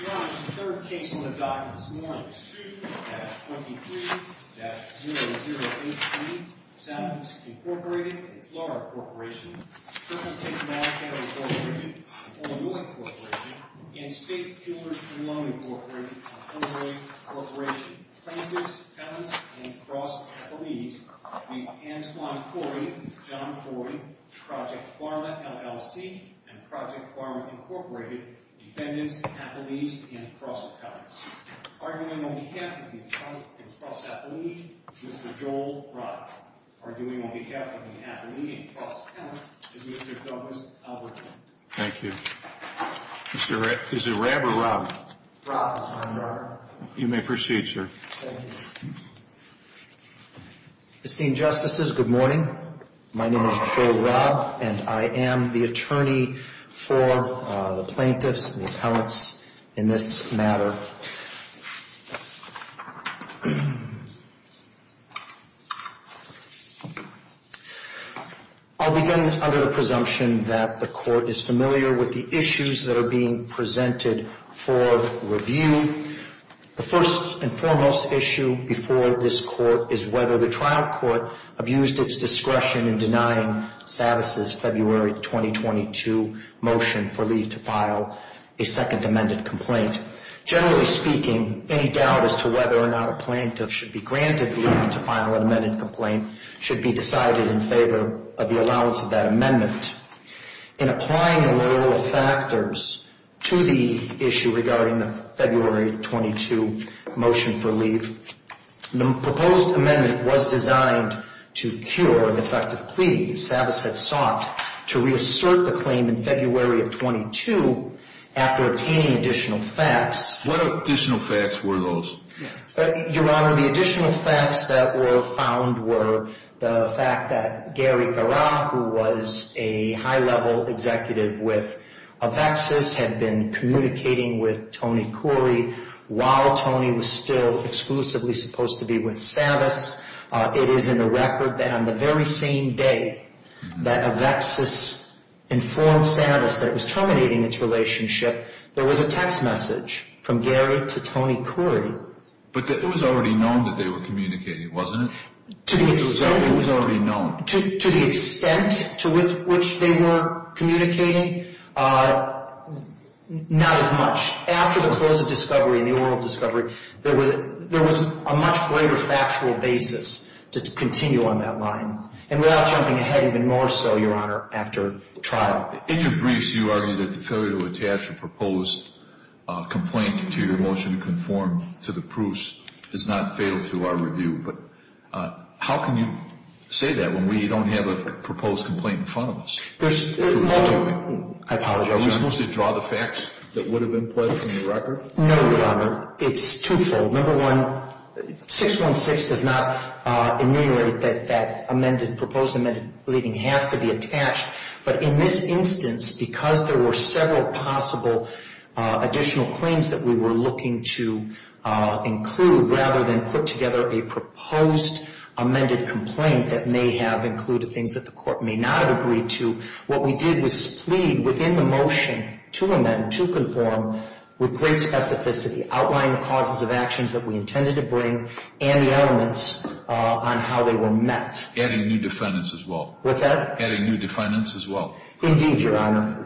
Your Honor, the third case on the docket this morning is 2-43-0083, Savis, Inc. v. Flora Corporation, Kirkland-Texas-Mall County, Inc., and Illinois, Inc., and State-Kilmer-Colonia, Inc., and Honore, Inc., plaintiffs, felons, and cross-athletes, v. Antoine Khoury, John Khoury, Project Pharma, LLC, and Project Pharma, Inc., defendants, athletes, and cross-athletes. Arguing on behalf of the athlete and cross-athlete is Mr. Joel Robb. Arguing on behalf of the athlete and cross-athlete is Mr. Douglas Alberton. Thank you. Is it Robb or Rabb? Robb, Your Honor. You may proceed, sir. Thank you. Esteemed Justices, good morning. My name is Joel Robb, and I am the attorney for the plaintiffs and the appellants in this matter. I'll begin under the presumption that the Court is familiar with the issues that are being presented for review. The first and foremost issue before this Court is whether the trial court abused its discretion in denying Savas' February 2022 motion for leave to file a second amended complaint. Generally speaking, any doubt as to whether or not a plaintiff should be granted leave to file an amended complaint should be decided in favor of the allowance of that amendment. In applying the literal factors to the issue regarding the February 22 motion for leave, the proposed amendment was designed to cure an effective plea Savas had sought to reassert the claim in February of 22 after attaining additional facts. What additional facts were those? Your Honor, the additional facts that were found were the fact that Gary Parra, who was a high-level executive with Avexis, had been communicating with Tony Khoury while Tony was still exclusively supposed to be with Savas. It is in the record that on the very same day that Avexis informed Savas that it was terminating its relationship, there was a text message from Gary to Tony Khoury. But it was already known that they were communicating, wasn't it? It was already known. To the extent to which they were communicating, not as much. After the close of discovery and the oral discovery, there was a much greater factual basis to continue on that line, and without jumping ahead even more so, Your Honor, after trial. In your briefs, you argue that the failure to attach a proposed complaint to your motion to conform to the proofs is not fatal to our review. But how can you say that when we don't have a proposed complaint in front of us? I apologize. Are we supposed to draw the facts that would have been pledged in the record? No, Your Honor. It's twofold. Number one, 616 does not enumerate that that amended, proposed amended leaving has to be attached. But in this instance, because there were several possible additional claims that we were looking to include, rather than put together a proposed amended complaint that may have included things that the court may not have agreed to, what we did was plead within the motion to amend, to conform, with great specificity, outlining the causes of actions that we intended to bring and the elements on how they were met. Adding new defendants as well. What's that? Adding new defendants as well. Indeed, Your Honor.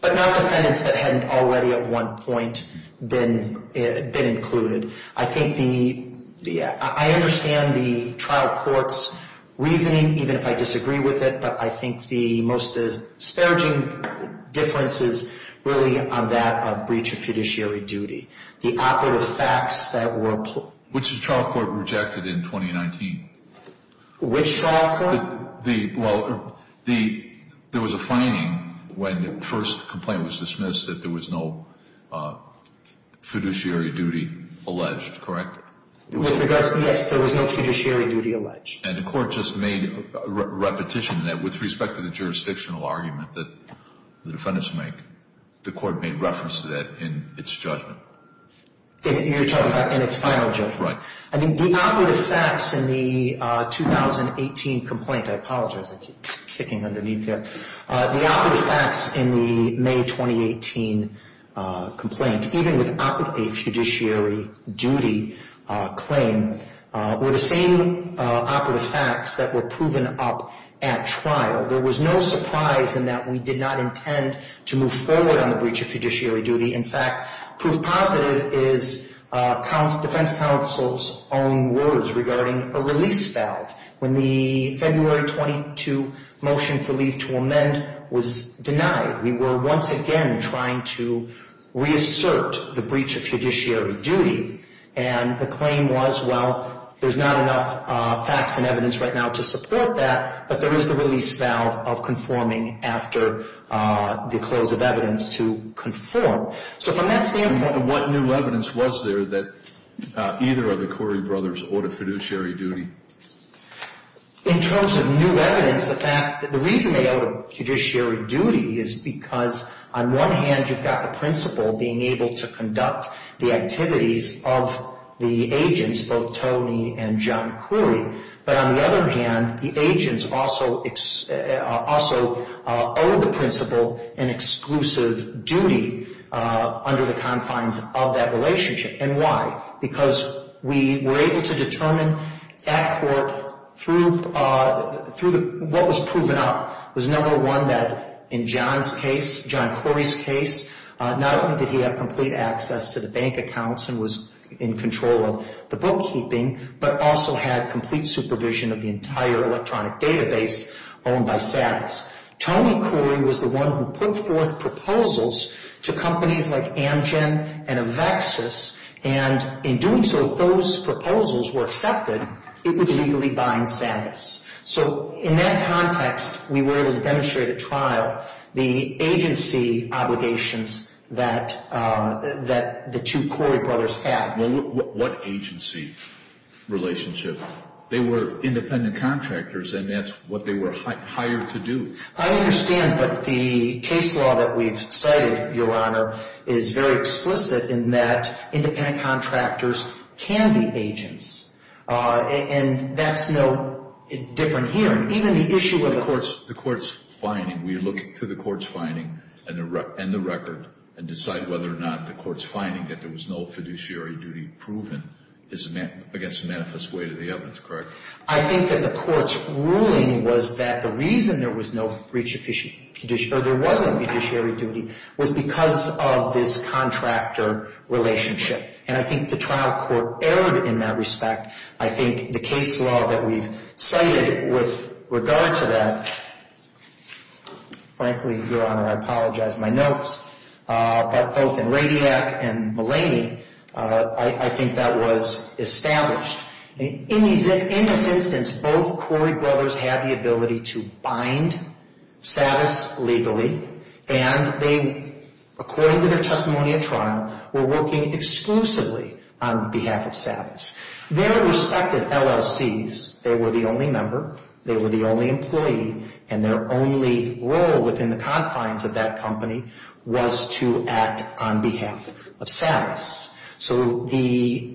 But not defendants that hadn't already at one point been included. I think the – I understand the trial court's reasoning, even if I disagree with it, but I think the most disparaging difference is really on that breach of judiciary duty. The operative facts that were – Which the trial court rejected in 2019. Which trial court? Well, there was a finding when the first complaint was dismissed that there was no fiduciary duty alleged, correct? Yes, there was no fiduciary duty alleged. And the court just made a repetition that with respect to the jurisdictional argument that the defendants make, the court made reference to that in its judgment. You're talking about in its final judgment. Right. I mean, the operative facts in the 2018 complaint – I apologize, I keep ticking underneath here – the operative facts in the May 2018 complaint, even with a fiduciary duty claim, were the same operative facts that were proven up at trial. There was no surprise in that we did not intend to move forward on the breach of fiduciary duty. In fact, proof positive is defense counsel's own words regarding a release valve. When the February 22 motion for leave to amend was denied, we were once again trying to reassert the breach of fiduciary duty, and the claim was, well, there's not enough facts and evidence right now to support that, but there is the release valve of conforming after the close of evidence to conform. So from that standpoint – And what new evidence was there that either of the Corey brothers owed a fiduciary duty? In terms of new evidence, the reason they owed a fiduciary duty is because, on one hand, you've got the principal being able to conduct the activities of the agents, both Tony and John Corey, but on the other hand, the agents also owe the principal an exclusive duty under the confines of that relationship. And why? Because we were able to determine at court through what was proven up was, number one, that in John's case, John Corey's case, not only did he have complete access to the bank accounts and was in control of the bookkeeping, but also had complete supervision of the entire electronic database owned by Savitz. Tony Corey was the one who put forth proposals to companies like Amgen and Avexis, and in doing so, if those proposals were accepted, it would legally bind Savitz. So in that context, we were able to demonstrate at trial the agency obligations that the two Corey brothers had. What agency relationship? They were independent contractors, and that's what they were hired to do. I understand, but the case law that we've cited, Your Honor, is very explicit in that independent contractors can be agents. And that's no different here. Even the issue of the court's finding, we look to the court's finding and the record and decide whether or not the court's finding that there was no fiduciary duty proven is, I guess, a manifest way to the evidence, correct? I think that the court's ruling was that the reason there was no breach of fiduciary duty was because of this contractor relationship. And I think the trial court erred in that respect. I think the case law that we've cited with regard to that, frankly, Your Honor, I apologize for my notes, but both in Radiac and Mulaney, I think that was established. In this instance, both Corey brothers had the ability to bind Savitz legally, and they, according to their testimony at trial, were working exclusively on behalf of Savitz. Their respective LLCs, they were the only member, they were the only employee, and their only role within the confines of that company was to act on behalf of Savitz. So the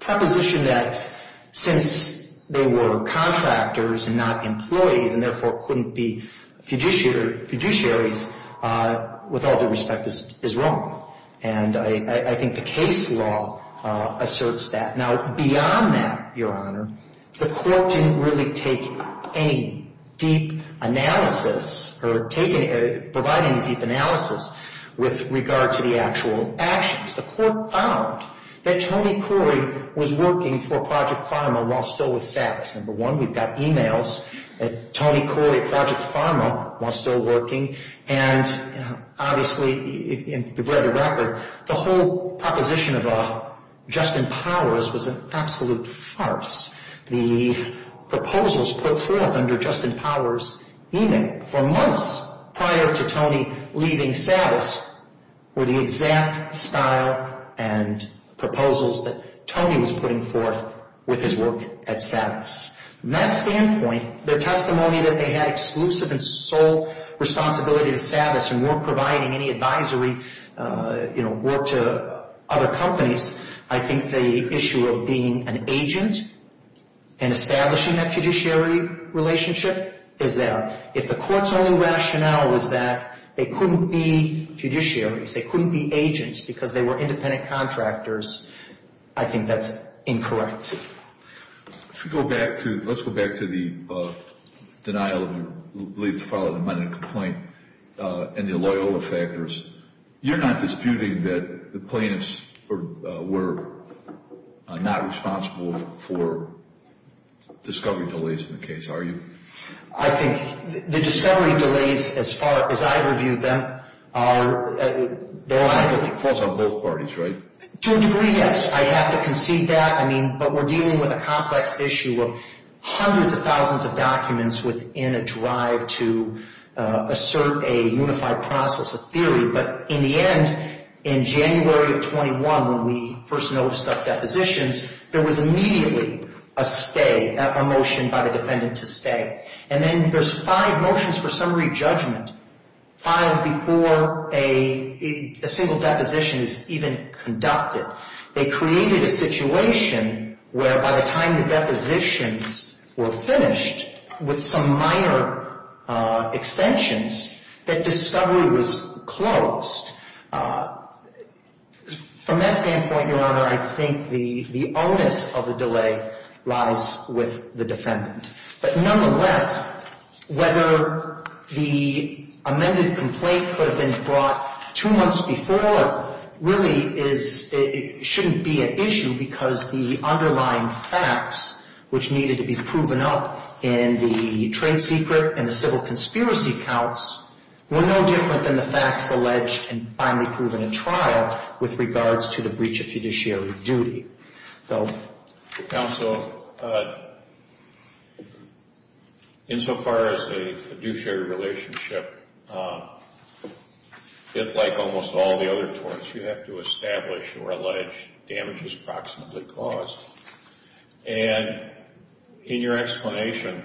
proposition that since they were contractors and not employees and therefore couldn't be fiduciaries, with all due respect, is wrong. And I think the case law asserts that. Now, beyond that, Your Honor, the court didn't really take any deep analysis or provide any deep analysis with regard to the actual actions. The court found that Tony Corey was working for Project Primal while still with Savitz. Number one, we've got e-mails that Tony Corey at Project Primal was still working, and obviously, if you've read the record, the whole proposition of Justin Powers was an absolute farce. The proposals put forth under Justin Powers' e-mail for months prior to Tony leaving Savitz were the exact style and proposals that Tony was putting forth with his work at Savitz. From that standpoint, their testimony that they had exclusive and sole responsibility to Savitz and weren't providing any advisory work to other companies, I think the issue of being an agent and establishing that fiduciary relationship is there. But if the court's only rationale was that they couldn't be fiduciaries, they couldn't be agents because they were independent contractors, I think that's incorrect. Let's go back to the denial of the lead to file a demanding complaint and the Loyola factors. You're not disputing that the plaintiffs were not responsible for discovery delays in the case, are you? I think the discovery delays, as far as I've reviewed them, are there. But the courts are both parties, right? To a degree, yes. I have to concede that. I mean, but we're dealing with a complex issue of hundreds of thousands of documents within a drive to assert a unified process of theory. But in the end, in January of 21, when we first noticed our depositions, there was immediately a stay, a motion by the defendant to stay. And then there's five motions for summary judgment filed before a single deposition is even conducted. They created a situation where by the time the depositions were finished, with some minor extensions, that discovery was closed. From that standpoint, Your Honor, I think the onus of the delay lies with the defendant. But nonetheless, whether the amended complaint could have been brought two months before, really shouldn't be an issue because the underlying facts, which needed to be proven up in the trade secret and the civil conspiracy counts, were no different than the facts alleged and finally proven in trial with regards to the breach of fiduciary duty. Bill? Counsel, insofar as a fiduciary relationship, like almost all the other torts, you have to establish or allege damage is proximately caused. And in your explanation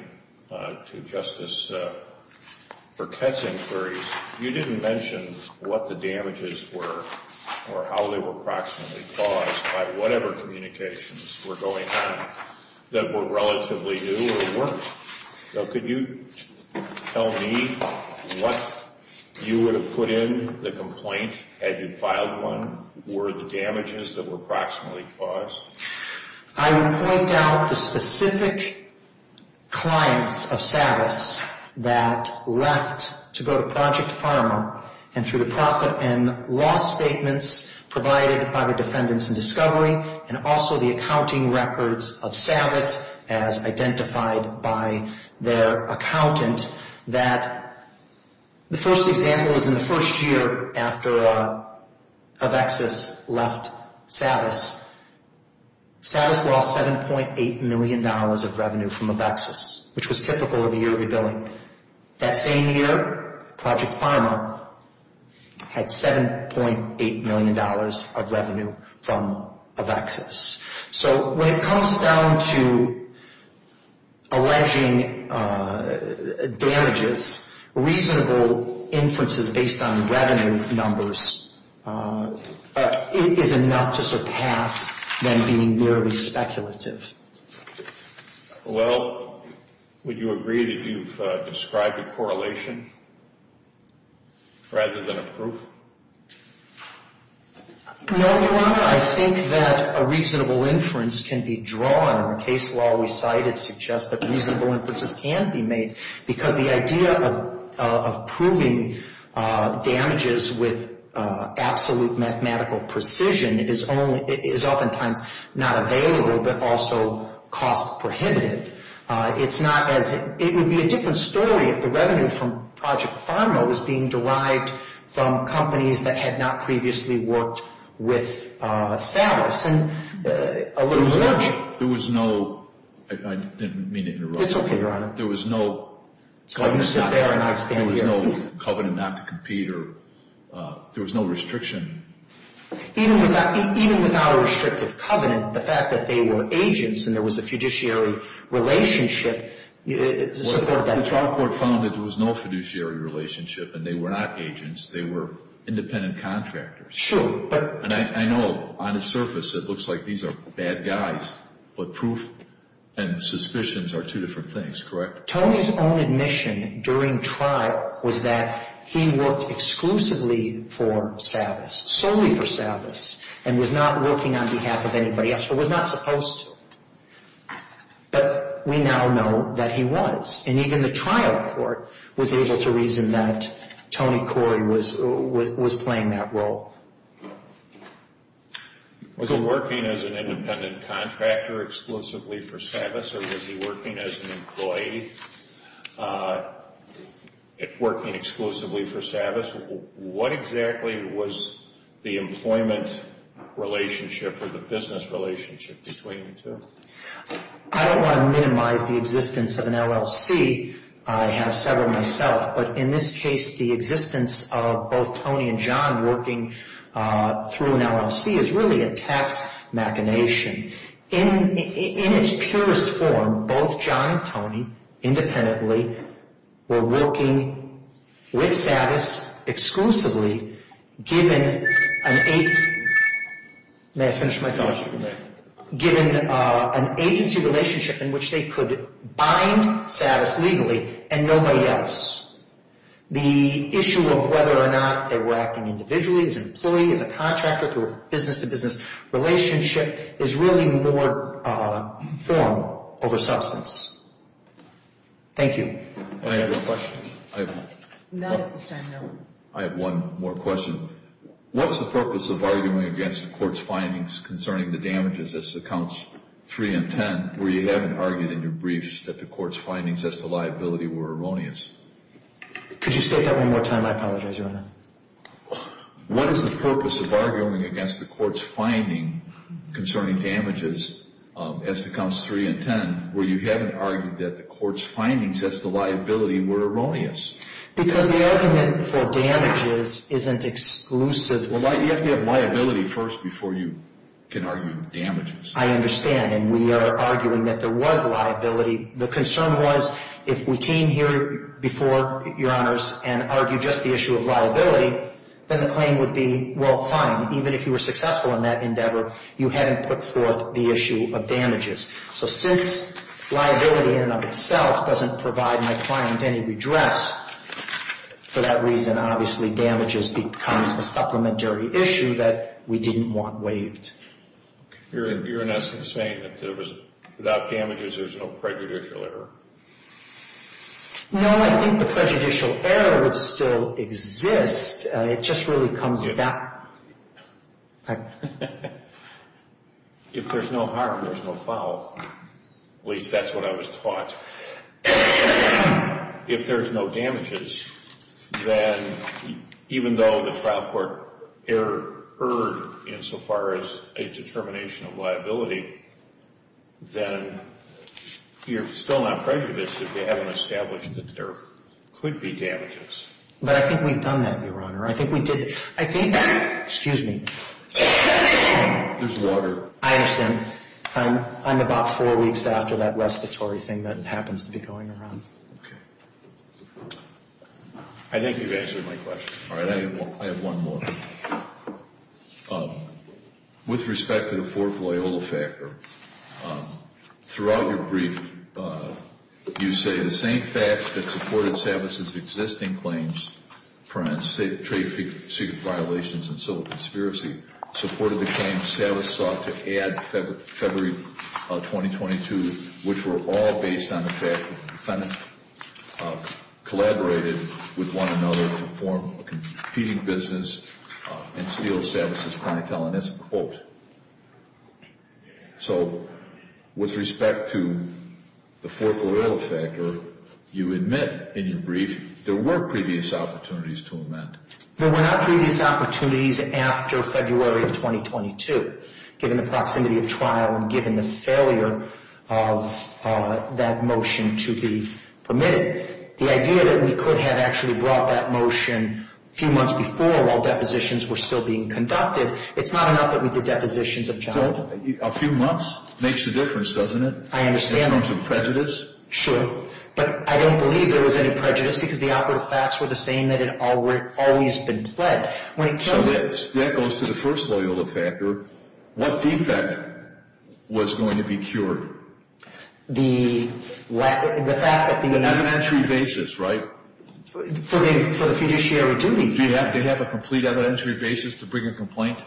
to Justice Burkett's inquiries, you didn't mention what the damages were or how they were proximately caused by whatever communications were going on that were relatively new or weren't. So could you tell me what you would have put in the complaint had you filed one? Were the damages that were proximately caused? I would point out the specific clients of Savas that left to go to Project Pharma and through the profit and loss statements provided by the defendants in discovery and also the accounting records of Savas as identified by their accountant, that the first example is in the first year after Avexis left Savas. Savas lost $7.8 million of revenue from Avexis, which was typical of a yearly billing. That same year, Project Pharma had $7.8 million of revenue from Avexis. So when it comes down to alleging damages, reasonable inferences based on revenue numbers is enough to surpass them being merely speculative. Well, would you agree that you've described a correlation rather than a proof? No, Your Honor, I think that a reasonable inference can be drawn. The case law we cited suggests that reasonable inferences can be made because the idea of proving damages with absolute mathematical precision is oftentimes not available but also cost prohibitive. It would be a different story if the revenue from Project Pharma was being derived from companies that had not previously worked with Savas. There was no—I didn't mean to interrupt you. It's okay, Your Honor. There was no covenant not to compete or there was no restriction. Even without a restrictive covenant, the fact that they were agents Well, the trial court found that there was no fiduciary relationship and they were not agents. They were independent contractors. Sure, but— And I know on the surface it looks like these are bad guys, but proof and suspicions are two different things, correct? Tony's own admission during trial was that he worked exclusively for Savas, solely for Savas, and was not working on behalf of anybody else or was not supposed to. But we now know that he was, and even the trial court was able to reason that Tony Corey was playing that role. Was he working as an independent contractor exclusively for Savas or was he working as an employee working exclusively for Savas? What exactly was the employment relationship or the business relationship between the two? I don't want to minimize the existence of an LLC. I have several myself, but in this case, the existence of both Tony and John working through an LLC is really a tax machination. In its purest form, both John and Tony, independently, were working with Savas exclusively given an agency— May I finish my thought? Given an agency relationship in which they could bind Savas legally and nobody else. The issue of whether or not they were acting individually, as an employee, as a contractor, through a business-to-business relationship, is really more form over substance. Thank you. Any other questions? Not at this time, no. I have one more question. What's the purpose of arguing against the court's findings concerning the damages as to counts 3 and 10 where you haven't argued in your briefs that the court's findings as to liability were erroneous? Could you state that one more time? I apologize, Your Honor. What is the purpose of arguing against the court's finding concerning damages as to counts 3 and 10 where you haven't argued that the court's findings as to liability were erroneous? Because the argument for damages isn't exclusive. Well, you have to have liability first before you can argue damages. I understand, and we are arguing that there was liability. The concern was if we came here before, Your Honors, and argued just the issue of liability, then the claim would be, well, fine, even if you were successful in that endeavor, you hadn't put forth the issue of damages. So since liability in and of itself doesn't provide my client any redress, for that reason, obviously, damages becomes a supplementary issue that we didn't want waived. You're in essence saying that without damages, there's no prejudicial error? No, I think the prejudicial error would still exist. It just really comes with that. If there's no harm, there's no foul. At least that's what I was taught. If there's no damages, then even though the trial court erred insofar as a determination of liability, then you're still not prejudiced if they haven't established that there could be damages. But I think we've done that, Your Honor. I think we did it. I think that, excuse me. There's water. I understand. I'm about four weeks after that respiratory thing that happens to be going around. Okay. I think you've answered my question. All right. I have one more. With respect to the fourth Loyola factor, throughout your brief, you say the same facts that supported Savitz's existing claims, trade secret violations and civil conspiracy, supported the claim Savitz sought to add February 2022, which were all based on the fact that defendants collaborated with one another to form a competing business and steal Savitz's clientele. And that's a quote. So with respect to the fourth Loyola factor, you admit in your brief there were previous opportunities to amend. There were not previous opportunities after February of 2022, given the proximity of trial and given the failure of that motion to be permitted. The idea that we could have actually brought that motion a few months before while depositions were still being conducted, it's not enough that we did depositions of child. A few months makes a difference, doesn't it? I understand that. In terms of prejudice? Sure. But I don't believe there was any prejudice because the operative facts were the same that had always been pled. So that goes to the first Loyola factor. What defect was going to be cured? The fact that the- Evidentiary basis, right? For the fiduciary duty. Do you have a complete evidentiary basis to bring a complaint?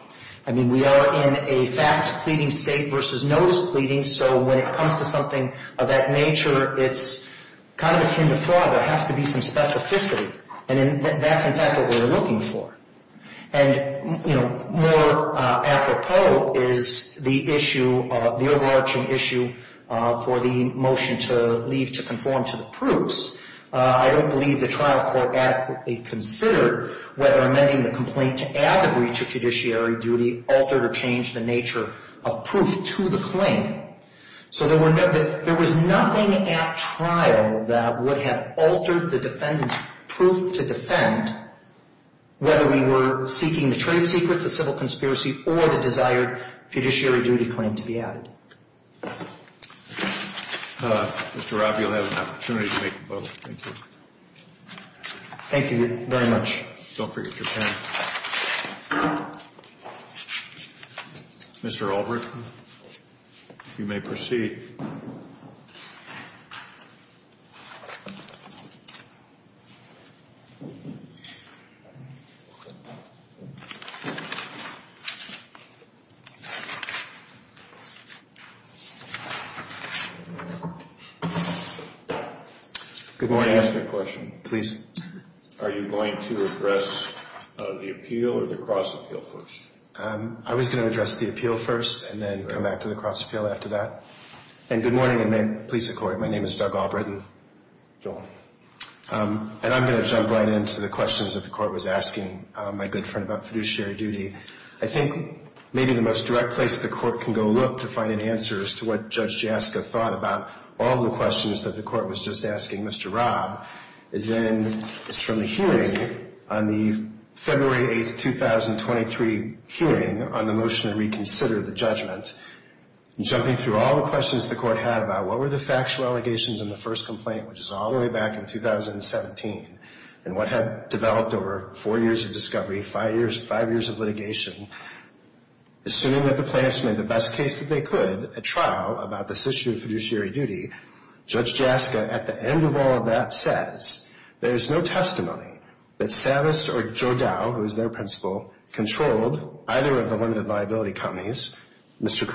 I mean, we are in a facts pleading state versus notice pleading, so when it comes to something of that nature, it's kind of akin to fraud. There has to be some specificity, and that's, in fact, what we're looking for. And, you know, more apropos is the overarching issue for the motion to leave to conform to the proofs. I don't believe the trial court adequately considered whether amending the complaint to add the breach of fiduciary duty altered or changed the nature of proof to the claim. So there was nothing at trial that would have altered the defendant's proof to defend whether we were seeking the trade secrets, the civil conspiracy, or the desired fiduciary duty claim to be added. Mr. Robbie, you'll have an opportunity to make a vote. Thank you. Thank you very much. Don't forget your pen. Mr. Albrecht, you may proceed. Good morning. Can I ask a question? Please. Are you going to address the appeal or the cross-appeal first? I was going to address the appeal first and then come back to the cross-appeal after that. And good morning, and may it please the Court. My name is Doug Albrecht. Joel. And I'm going to jump right into the questions that the Court was asking my good friend about fiduciary duty. I think maybe the most direct place the Court can go look to find an answer as to what Judge Jaska thought about all the questions that the Court was just asking Mr. Robb is from the hearing on the February 8, 2023, hearing on the motion to reconsider the judgment. Jumping through all the questions the Court had about what were the factual allegations in the first complaint, which is all the way back in 2017, and what had developed over four years of discovery, five years of litigation, assuming that the plaintiffs made the best case that they could at trial about this issue of fiduciary duty, Judge Jaska, at the end of all of that, says, There is no testimony that Savas or Jodow, who is their principal, controlled either of the limited liability companies, Mr.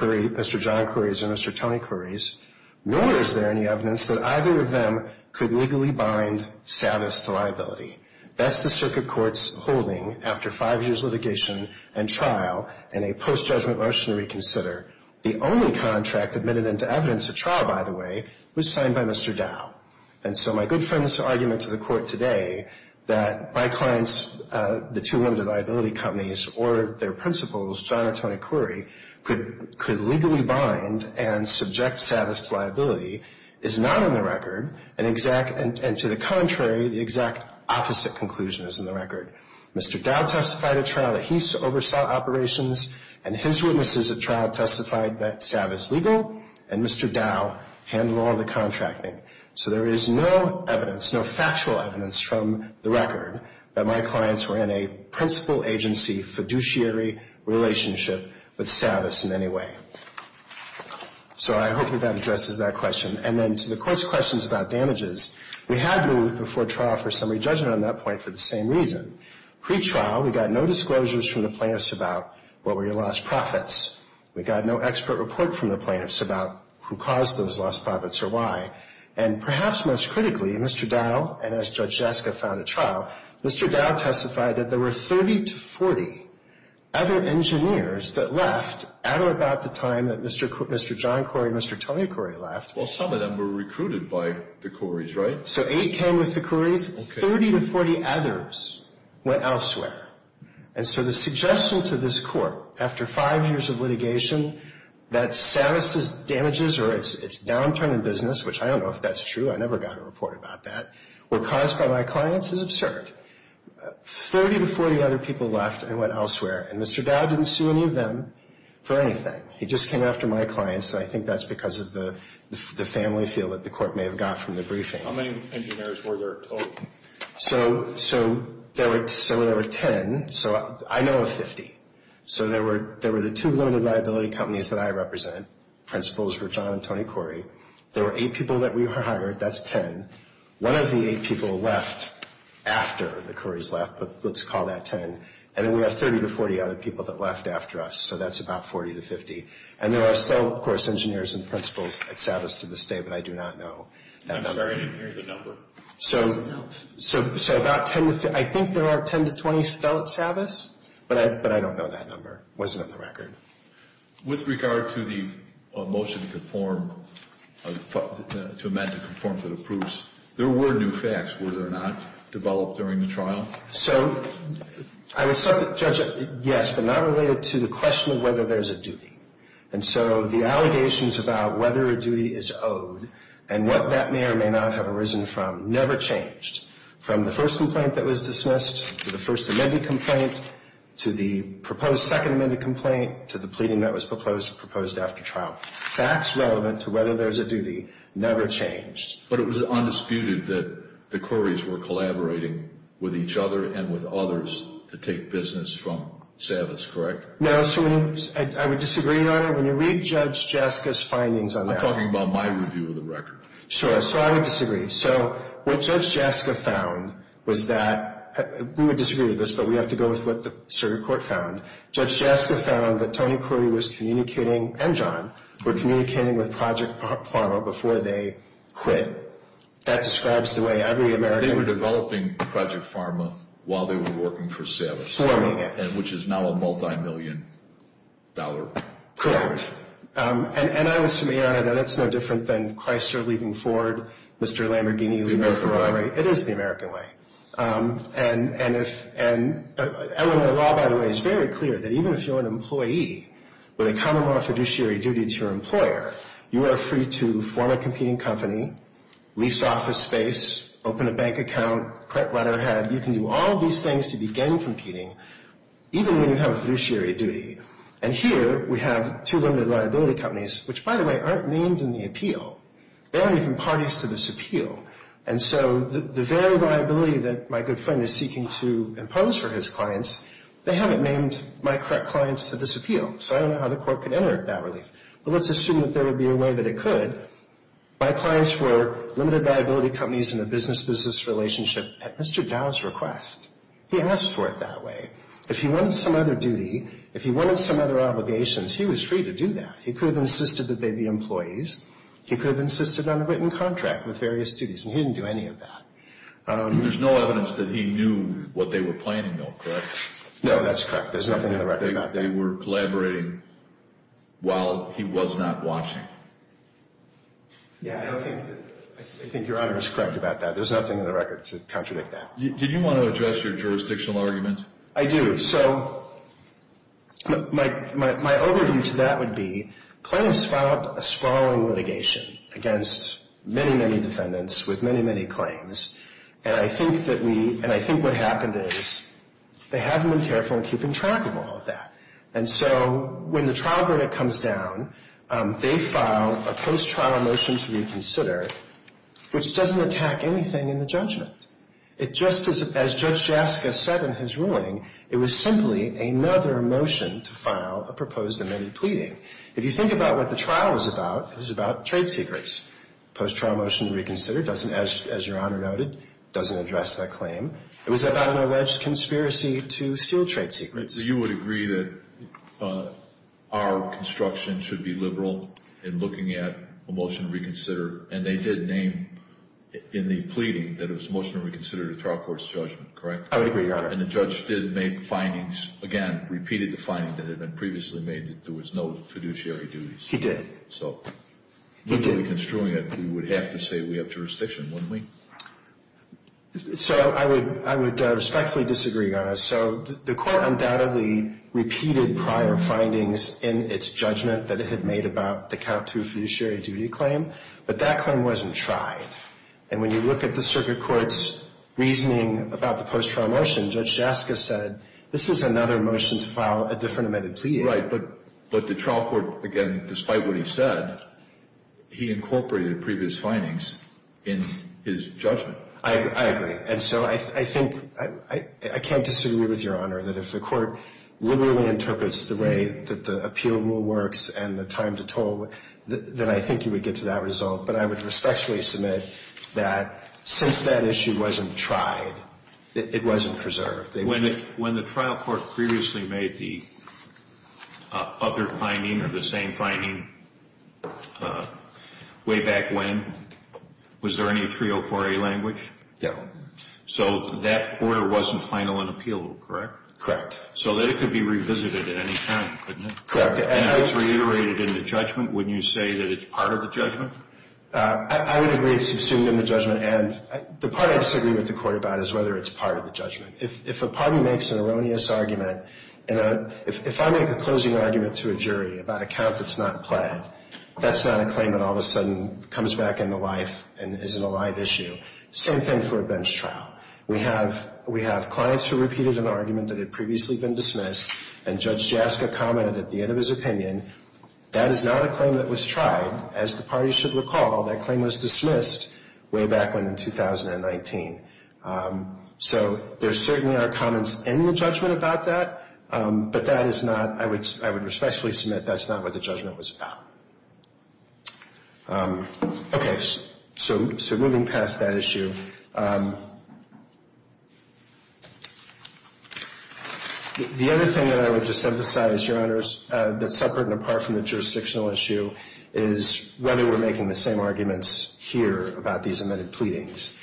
John Curry's or Mr. Tony Curry's, nor is there any evidence that either of them could legally bind Savas to liability. That's the circuit court's holding after five years of litigation and trial and a post-judgment motion to reconsider. The only contract admitted into evidence at trial, by the way, was signed by Mr. Dow. And so my good friend's argument to the Court today that my client's, the two limited liability companies, or their principals, John or Tony Curry, could legally bind and subject Savas to liability is not on the record, and to the contrary, the exact opposite conclusion is in the record. Mr. Dow testified at trial that he oversaw operations, and his witnesses at trial testified that Savas legal, and Mr. Dow handled all the contracting. So there is no evidence, no factual evidence from the record, that my clients were in a principal agency fiduciary relationship with Savas in any way. So I hope that that addresses that question. And then to the Court's questions about damages, we had moved before trial for summary judgment on that point for the same reason. Pre-trial, we got no disclosures from the plaintiffs about what were your lost profits. We got no expert report from the plaintiffs about who caused those lost profits or why. And perhaps most critically, Mr. Dow, and as Judge Jaska found at trial, Mr. Dow testified that there were 30 to 40 other engineers that left at or about the time that Mr. John Curry and Mr. Tony Curry left. Well, some of them were recruited by the Currys, right? So eight came with the Currys. Okay. Thirty to 40 others went elsewhere. And so the suggestion to this Court, after five years of litigation, that Savas' damages or its downturn in business, which I don't know if that's true, I never got a report about that, were caused by my clients is absurd. Thirty to 40 other people left and went elsewhere, and Mr. Dow didn't sue any of them for anything. He just came after my clients, and I think that's because of the family feel that the Court may have got from the briefing. How many engineers were there total? So there were 10. So I know of 50. So there were the two limited liability companies that I represent. Principals were John and Tony Curry. There were eight people that we hired. That's 10. One of the eight people left after the Currys left, but let's call that 10. And then we have 30 to 40 other people that left after us. So that's about 40 to 50. And there are still, of course, engineers and principals at Savas to this day, but I do not know that number. I'm sorry, I didn't hear the number. So about 10 to 50. I think there are 10 to 20 still at Savas, but I don't know that number. It wasn't on the record. With regard to the motion to conform, to amend to conform to the proofs, there were new facts. Were there not developed during the trial? So I will subject, judge, yes, but not related to the question of whether there's a duty. And so the allegations about whether a duty is owed and what that may or may not have arisen from never changed. From the first complaint that was dismissed to the first amended complaint to the proposed second amended complaint to the pleading that was proposed after trial, facts relevant to whether there's a duty never changed. But it was undisputed that the Corys were collaborating with each other and with others to take business from Savas, correct? No. I would disagree, Your Honor. When you read Judge Jaska's findings on that. I'm talking about my review of the record. Sure. So I would disagree. So what Judge Jaska found was that, we would disagree with this, but we have to go with what the circuit court found. Judge Jaska found that Tony Cory was communicating, and John, were communicating with Project Pharma before they quit. That describes the way every American. They were developing Project Pharma while they were working for Savas. Forming it. Which is now a multi-million dollar company. Correct. And I would submit, Your Honor, that that's no different than Chrysler leading Ford, Mr. Lamborghini leading Ferrari. It is the American way. And Illinois law, by the way, is very clear that even if you're an employee with a common law fiduciary duty to your employer, you are free to form a competing company, lease office space, open a bank account, correct letterhead. You can do all these things to begin competing, even when you have a fiduciary duty. And here, we have two limited liability companies, which, by the way, aren't named in the appeal. They aren't even parties to this appeal. And so the very liability that my good friend is seeking to impose for his clients, they haven't named my correct clients to this appeal. So I don't know how the court could enter that relief. But let's assume that there would be a way that it could. My clients were limited liability companies in a business-business relationship at Mr. Dow's request. He asked for it that way. If he wanted some other duty, if he wanted some other obligations, he was free to do that. He could have insisted that they be employees. He could have insisted on a written contract with various duties. And he didn't do any of that. There's no evidence that he knew what they were planning, though, correct? No, that's correct. There's nothing in the record about that. They were collaborating while he was not watching. Yeah, I don't think that. I think Your Honor is correct about that. There's nothing in the record to contradict that. Did you want to address your jurisdictional argument? I do. So my overview to that would be claims filed a sprawling litigation against many, many defendants with many, many claims. And I think that we – and I think what happened is they haven't been careful in keeping track of all of that. And so when the trial verdict comes down, they file a post-trial motion to reconsider, which doesn't attack anything in the judgment. Just as Judge Jaska said in his ruling, it was simply another motion to file a proposed amended pleading. If you think about what the trial was about, it was about trade secrets. Post-trial motion to reconsider doesn't, as Your Honor noted, doesn't address that claim. It was about an alleged conspiracy to steal trade secrets. So you would agree that our construction should be liberal in looking at a motion to reconsider. And they did name in the pleading that it was a motion to reconsider the trial court's judgment, correct? I would agree, Your Honor. And the judge did make findings, again, repeated the findings that had been previously made that there was no fiduciary duties. He did. So if we were construing it, we would have to say we have jurisdiction, wouldn't we? So I would respectfully disagree, Your Honor. So the court undoubtedly repeated prior findings in its judgment that it had made about the Cap 2 fiduciary duty claim. But that claim wasn't tried. And when you look at the circuit court's reasoning about the post-trial motion, Judge Jaska said, this is another motion to file a different amended pleading. Right. But the trial court, again, despite what he said, he incorporated previous findings in his judgment. I agree. And so I think I can't disagree with Your Honor that if the court literally interprets the way that the appeal rule works and the time to toll, then I think you would get to that result. But I would respectfully submit that since that issue wasn't tried, it wasn't preserved. When the trial court previously made the other finding or the same finding way back when, was there any 304A language? No. So that order wasn't final in appeal, correct? Correct. So then it could be revisited at any time, couldn't it? Correct. And if it's reiterated in the judgment, wouldn't you say that it's part of the judgment? I would agree it's assumed in the judgment. And the part I disagree with the court about is whether it's part of the judgment. If a party makes an erroneous argument, if I make a closing argument to a jury about a count that's not planned, that's not a claim that all of a sudden comes back into life and isn't a live issue. Same thing for a bench trial. We have clients who repeated an argument that had previously been dismissed, and Judge Jaska commented at the end of his opinion, that is not a claim that was tried. As the parties should recall, that claim was dismissed way back when in 2019. So there certainly are comments in the judgment about that, but that is not, I would respectfully submit, that's not what the judgment was about. Okay, so moving past that issue. The other thing that I would just emphasize, Your Honors, that's separate and apart from the jurisdictional issue, is whether we're making the same arguments here about these amended pleadings.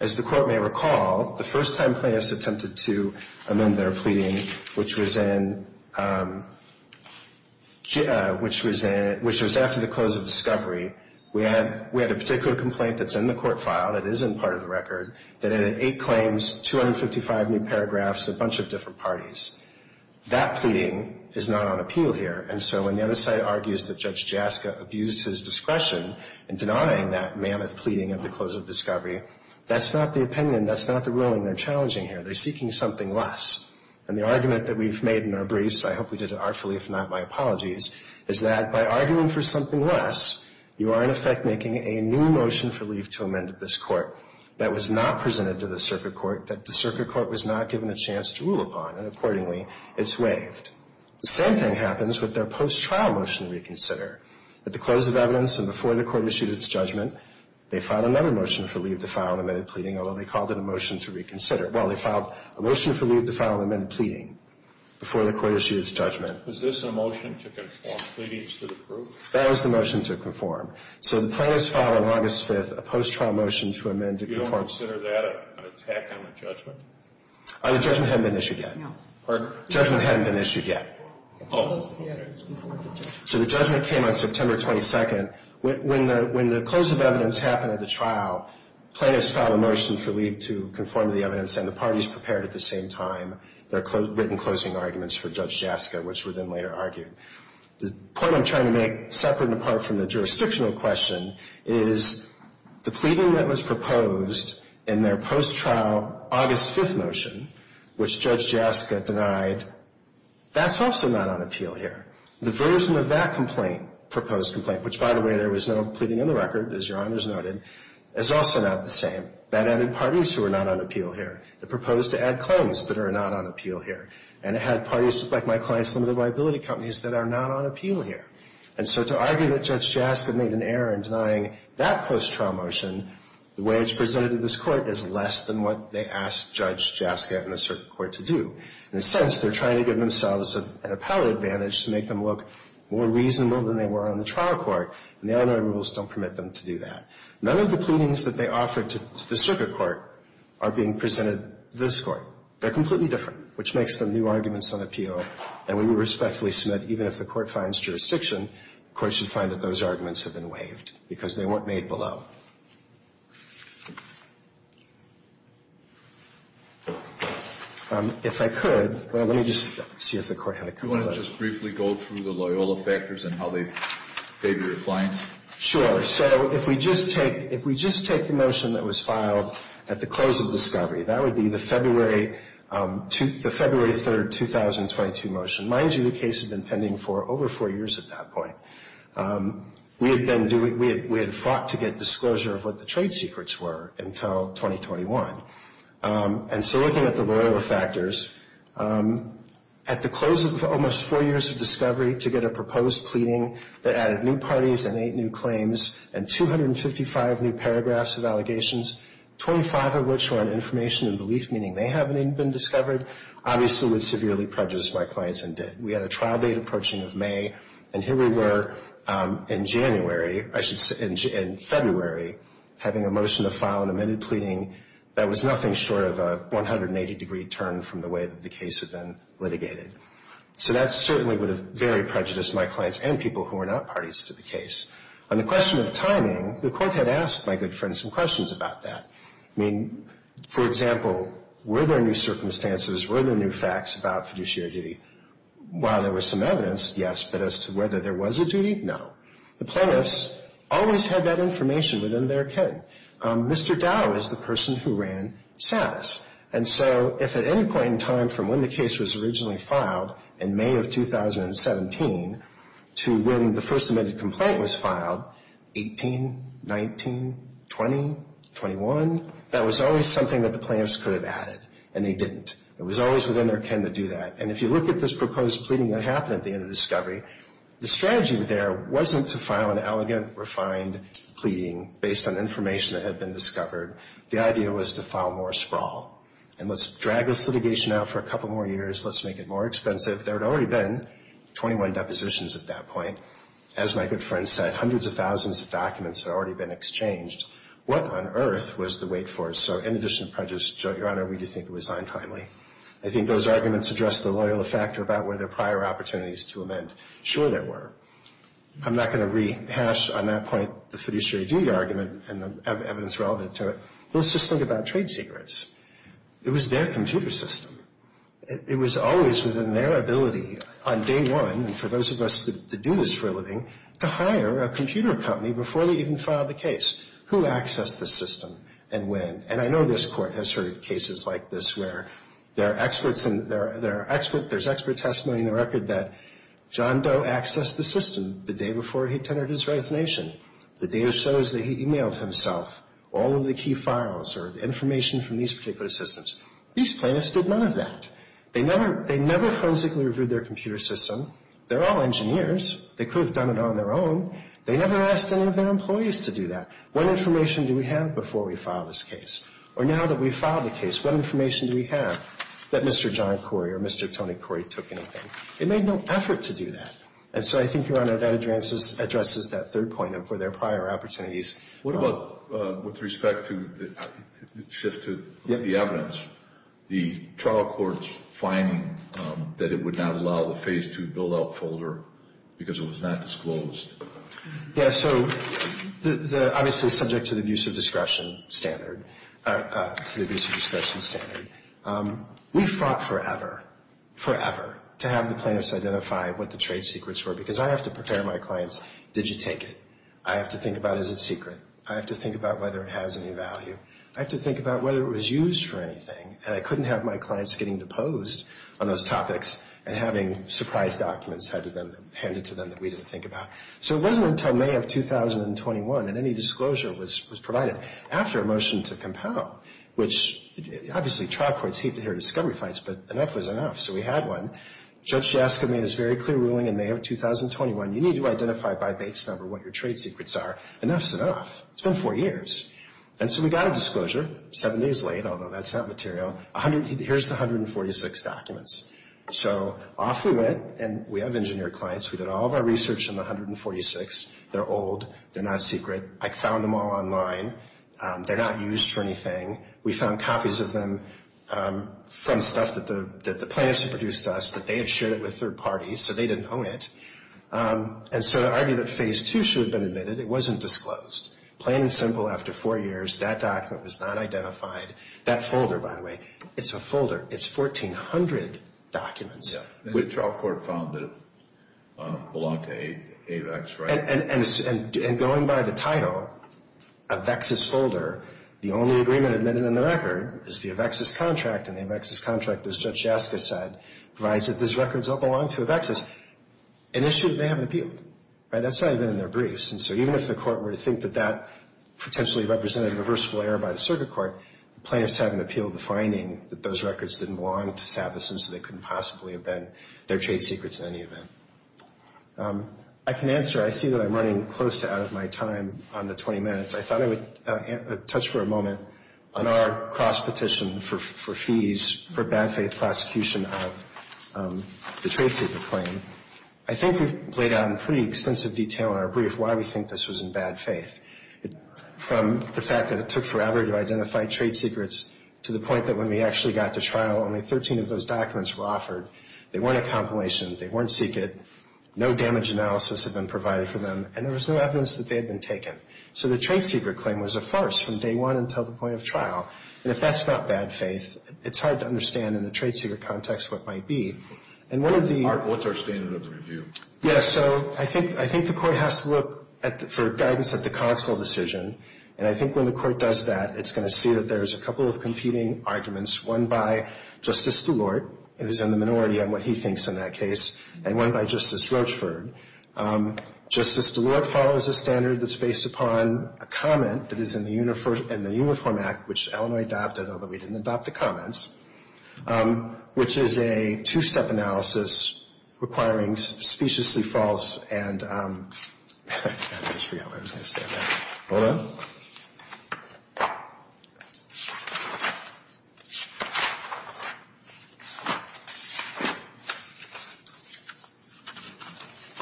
As the court may recall, the first time clients attempted to amend their pleading, which was after the close of discovery, we had a particular complaint that's in the court file, that isn't part of the record, that had eight claims, 255 new paragraphs, a bunch of different parties. That pleading is not on appeal here. And so when the other side argues that Judge Jaska abused his discretion in denying that mammoth pleading at the close of discovery, that's not the opinion, that's not the ruling they're challenging here. They're seeking something less. And the argument that we've made in our briefs, I hope we did it artfully, if not, my apologies, is that by arguing for something less, you are in effect making a new motion for leave to amend this court that was not presented to the circuit court, that the circuit court was not given a chance to rule upon. And accordingly, it's waived. The same thing happens with their post-trial motion to reconsider. At the close of evidence and before the court issued its judgment, they filed another motion for leave to file an amended pleading, although they called it a motion to reconsider. Well, they filed a motion for leave to file an amended pleading before the court issued its judgment. Was this a motion to conform pleadings to the proof? That was the motion to conform. So the plaintiffs filed on August 5th a post-trial motion to amend it. Do you consider that an attack on the judgment? The judgment hadn't been issued yet. No. Pardon? The judgment hadn't been issued yet. Oh. So the judgment came on September 22nd. When the close of evidence happened at the trial, plaintiffs filed a motion for leave to conform to the evidence and the parties prepared at the same time their written closing arguments for Judge Jaska, which were then later argued. The point I'm trying to make, separate and apart from the jurisdictional question, is the pleading that was proposed in their post-trial August 5th motion, which Judge Jaska denied, that's also not on appeal here. The version of that complaint, proposed complaint, which, by the way, there was no pleading in the record, as Your Honors noted, is also not the same. That added parties who are not on appeal here. The proposed to add claims that are not on appeal here. And it had parties like my client's limited liability companies that are not on appeal here. And so to argue that Judge Jaska made an error in denying that post-trial motion, the way it's presented to this Court is less than what they asked Judge Jaska and the circuit court to do. In a sense, they're trying to give themselves an appellate advantage to make them look more reasonable than they were on the trial court, and the Illinois rules don't permit them to do that. None of the pleadings that they offered to the circuit court are being presented to this Court. They're completely different, which makes them new arguments on appeal. And we would respectfully submit, even if the Court finds jurisdiction, the Court should find that those arguments have been waived because they weren't made below. If I could, let me just see if the Court had a comment on that. Do you want to just briefly go through the Loyola factors and how they favor your clients? Sure. So if we just take the motion that was filed at the close of discovery, that would be the February 3, 2022 motion. Mind you, the case had been pending for over four years at that point. We had fought to get disclosure of what the trade secrets were until 2021. And so looking at the Loyola factors, at the close of almost four years of discovery, to get a proposed pleading that added new parties and eight new claims and 255 new paragraphs of allegations, 25 of which were on information and belief, meaning they hadn't even been discovered, obviously would severely prejudice my clients and did. We had a trial date approaching of May, and here we were in January, I should say, in February, having a motion to file an amended pleading that was nothing short of a 180-degree turn from the way that the case had been litigated. So that certainly would have very prejudiced my clients and people who were not parties to the case. On the question of timing, the court had asked my good friend some questions about that. I mean, for example, were there new circumstances, were there new facts about fiduciary duty? While there was some evidence, yes, but as to whether there was a duty, no. The plaintiffs always had that information within their ken. Mr. Dow is the person who ran status. And so if at any point in time from when the case was originally filed in May of 2017 to when the first amended complaint was filed, 18, 19, 20, 21, that was always something that the plaintiffs could have added, and they didn't. It was always within their ken to do that. And if you look at this proposed pleading that happened at the end of discovery, the strategy there wasn't to file an elegant, refined pleading based on information that had been discovered. The idea was to file more sprawl. And let's drag this litigation out for a couple more years, let's make it more expensive. There had already been 21 depositions at that point. As my good friend said, hundreds of thousands of documents had already been exchanged. What on earth was the wait for? So in addition to prejudice, Your Honor, we do think it was signed timely. I think those arguments address the loyalty factor about were there prior opportunities to amend. Sure there were. I'm not going to rehash on that point the fiduciary duty argument and the evidence relevant to it. Let's just think about trade secrets. It was their computer system. It was always within their ability on day one, and for those of us that do this for a living, to hire a computer company before they even filed the case. Who accessed the system and when? And I know this Court has heard cases like this where there are experts, there's expert testimony in the record that John Doe accessed the system the day before he attended his resignation. The data shows that he emailed himself all of the key files or information from these particular systems. These plaintiffs did none of that. They never frantically reviewed their computer system. They're all engineers. They could have done it on their own. They never asked any of their employees to do that. What information do we have before we file this case? Or now that we've filed the case, what information do we have that Mr. John Corey or Mr. Tony Corey took anything? They made no effort to do that. And so I think, Your Honor, that addresses that third point of where there are prior opportunities. What about with respect to the shift to the evidence? The trial court's finding that it would not allow the Phase 2 build-out folder because it was not disclosed. Yeah, so obviously subject to the abuse of discretion standard, to the abuse of discretion standard, we fought forever, forever to have the plaintiffs identify what the trade secrets were because I have to prepare my clients, did you take it? I have to think about, is it secret? I have to think about whether it has any value. I have to think about whether it was used for anything. And I couldn't have my clients getting deposed on those topics and having surprise documents handed to them that we didn't think about. So it wasn't until May of 2021 that any disclosure was provided. After a motion to compel, which obviously trial courts hate to hear discovery fights, but enough was enough. So we had one. Judge Jaska made his very clear ruling in May of 2021. You need to identify by base number what your trade secrets are. Enough's enough. It's been four years. And so we got a disclosure seven days late, although that's not material. Here's the 146 documents. So off we went. And we have engineered clients. We did all of our research on the 146. They're old. They're not secret. I found them all online. They're not used for anything. We found copies of them from stuff that the plaintiffs had produced to us, that they had shared it with their parties, so they didn't own it. And so to argue that Phase 2 should have been admitted, it wasn't disclosed. Plain and simple, after four years, that document was not identified. That folder, by the way, it's a folder. It's 1,400 documents. Which our court found that it belonged to AVEX, right? And going by the title, AVEX's folder, the only agreement admitted in the record is the AVEX's contract. And the AVEX's contract, as Judge Jaska said, provides that those records don't belong to AVEX's, an issue that they haven't appealed. That's not even in their briefs. And so even if the court were to think that that potentially represented a reversible error by the circuit court, the plaintiffs haven't appealed the finding that those records didn't belong to Savitsyn, so they couldn't possibly have been their trade secrets in any event. I can answer. I see that I'm running close to out of my time on the 20 minutes. I thought I would touch for a moment on our cross-petition for fees for bad faith prosecution of the trade secret claim. I think we've laid out in pretty extensive detail in our brief why we think this was in bad faith. From the fact that it took forever to identify trade secrets to the point that when we actually got to trial, only 13 of those documents were offered. They weren't a compilation. They weren't secret. No damage analysis had been provided for them. And there was no evidence that they had been taken. So the trade secret claim was a farce from day one until the point of trial. And if that's not bad faith, it's hard to understand in the trade secret context what might be. And one of the — What's our standard of review? Yeah, so I think the court has to look for guidance at the Cogswell decision. And I think when the court does that, it's going to see that there's a couple of competing arguments, one by Justice DeLorte, who's in the minority on what he thinks in that case, and one by Justice Roachford. Justice DeLorte follows a standard that's based upon a comment that is in the Uniform Act, which Illinois adopted, although we didn't adopt the comments, which is a two-step analysis requiring speciously false and — I just forgot what I was going to say there. Hold on.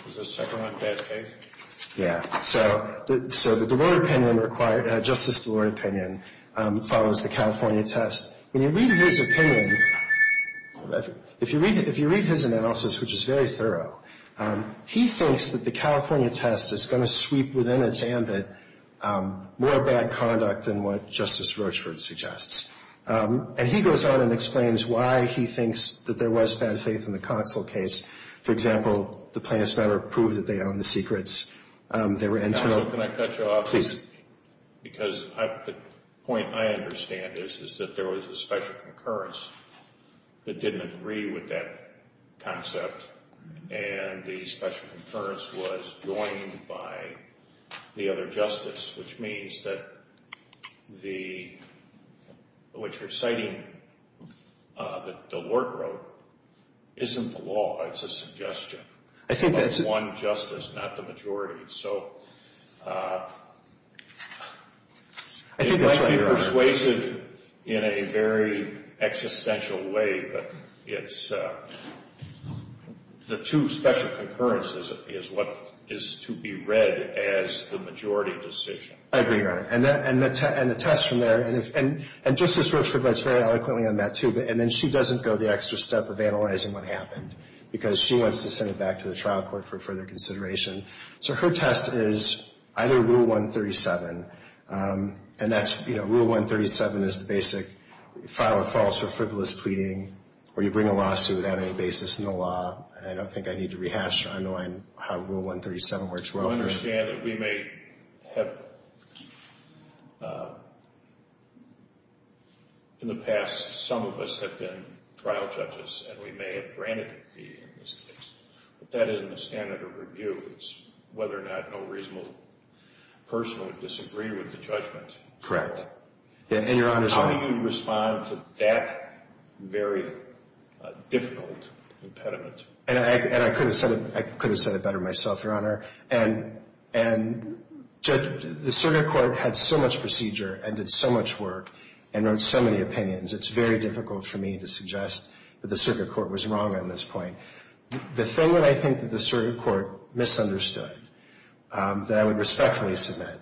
Was there a second one? Bad faith? Yeah. So the DeLorte opinion required — Justice DeLorte opinion follows the California test. When you read his opinion, if you read his analysis, which is very thorough, he thinks that the California test is going to sweep within its ambit more bad conduct than what Justice Roachford suggests. And he goes on and explains why he thinks that there was bad faith in the Cogswell case. For example, the plaintiffs never proved that they owned the secrets. They were — Counsel, can I cut you off? Please. Because the point I understand is that there was a special concurrence that didn't agree with that concept, and the special concurrence was joined by the other justice, which means that the — what you're citing that DeLorte wrote isn't the law. It's a suggestion. I think that's — It might be persuasive in a very existential way, but it's the two special concurrences is what is to be read as the majority decision. I agree, Your Honor. And the test from there — and Justice Roachford writes very eloquently on that, too. And then she doesn't go the extra step of analyzing what happened, because she wants to send it back to the trial court for further consideration. So her test is either Rule 137, and that's — you know, Rule 137 is the basic file a false or frivolous pleading, or you bring a lawsuit without any basis in the law. I don't think I need to rehash or unwind how Rule 137 works well for — I understand that we may have — in the past, some of us have been trial judges, and we may have granted a fee in this case. But that isn't a standard of review. It's whether or not no reasonable person would disagree with the judgment. Correct. And, Your Honor — How do you respond to that very difficult impediment? And I could have said it better myself, Your Honor. And the circuit court had so much procedure and did so much work and wrote so many opinions, it's very difficult for me to suggest that the circuit court was wrong on this point. The thing that I think that the circuit court misunderstood that I would respectfully submit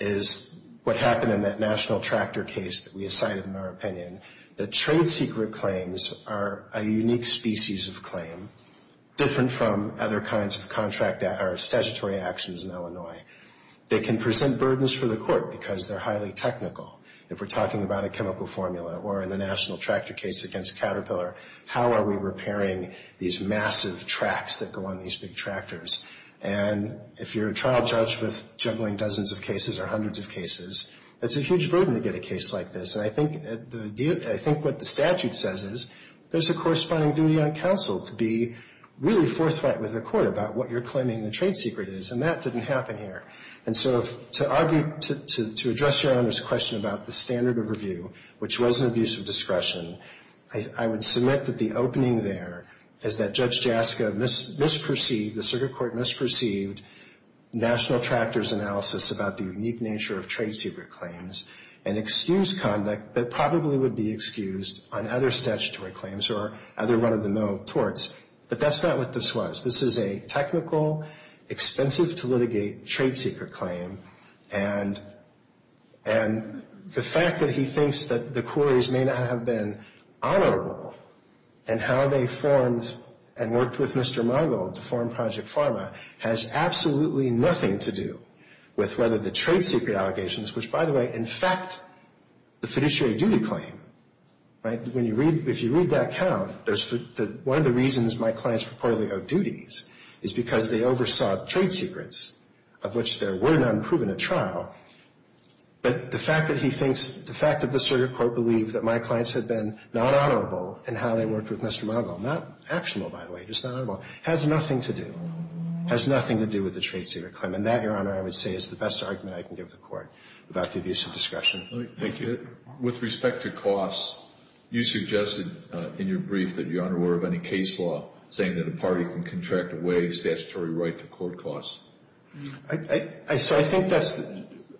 is what happened in that National Tractor case that we cited in our opinion, that trade secret claims are a unique species of claim, different from other kinds of statutory actions in Illinois. They can present burdens for the court because they're highly technical. If we're talking about a chemical formula or in the National Tractor case against Caterpillar, how are we repairing these massive tracks that go on these big tractors? And if you're a trial judge with juggling dozens of cases or hundreds of cases, it's a huge burden to get a case like this. And I think what the statute says is there's a corresponding duty on counsel to be really forthright with the court about what you're claiming the trade secret is, and that didn't happen here. And so to argue — to address Your Honor's question about the standard of review, which was an abuse of discretion, I would submit that the opening there is that Judge Jaska misperceived — the circuit court misperceived National Tractor's analysis about the unique nature of trade secret claims and excused conduct that probably would be excused on other statutory claims or other run-of-the-mill torts. But that's not what this was. This is a technical, expensive-to-litigate trade secret claim. And the fact that he thinks that the quarries may not have been honorable in how they formed and worked with Mr. Margold to form Project Pharma has absolutely nothing to do with whether the trade secret allegations, which, by the way, in fact, the fiduciary duty claim, right, when you read — if you read that count, there's — one of the reasons my clients purportedly owe duties is because they oversaw trade secrets of which there were none proven at trial. But the fact that he thinks — the fact that the circuit court believed that my clients had been not honorable in how they worked with Mr. Margold — not actionable, by the way, just not honorable — has nothing to do — has nothing to do with the trade secret claim. And that, Your Honor, I would say is the best argument I can give the Court about the abuse of discretion. Thank you. With respect to costs, you suggested in your brief that Your Honor were of any case law saying that a party can contract away statutory right to court costs. So I think that's —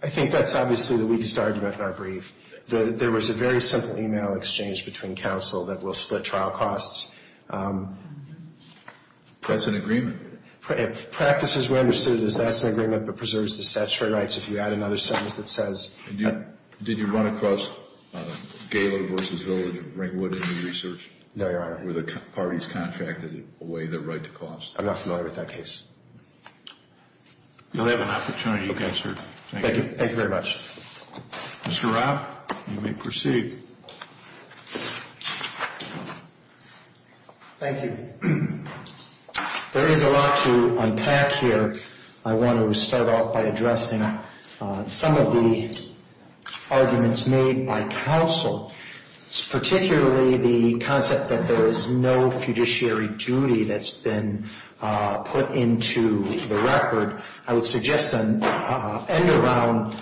I think that's obviously the weakest argument in our brief. There was a very simple email exchange between counsel that will split trial costs. That's an agreement. Practice as we understood it is that's an agreement but preserves the statutory rights. If you add another sentence that says — Did you run across Galo v. Village and Ringwood in your research? No, Your Honor. Were the parties contracted away their right to costs? I'm not familiar with that case. You'll have an opportunity to answer. Thank you. Thank you very much. Mr. Robb, you may proceed. Thank you. There is a lot to unpack here. I want to start off by addressing some of the arguments made by counsel, particularly the concept that there is no fiduciary duty that's been put into the record. I would suggest an end-around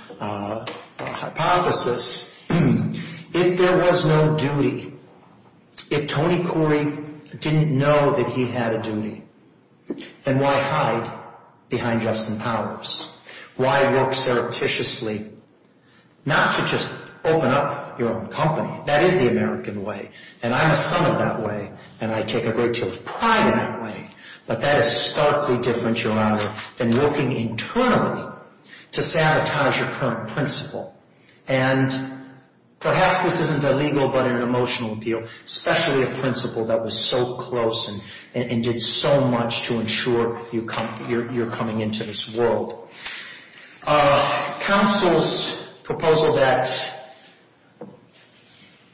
hypothesis. If there was no duty, if Tony Corey didn't know that he had a duty, then why hide behind Justin Powers? Why work surreptitiously not to just open up your own company? That is the American way. And I'm a son of that way. And I take a great deal of pride in that way. But that is starkly different, Your Honor, than working internally to sabotage your current principle. And perhaps this isn't illegal but an emotional appeal, especially a principle that was so close and did so much to ensure you're coming into this world. Counsel's proposal that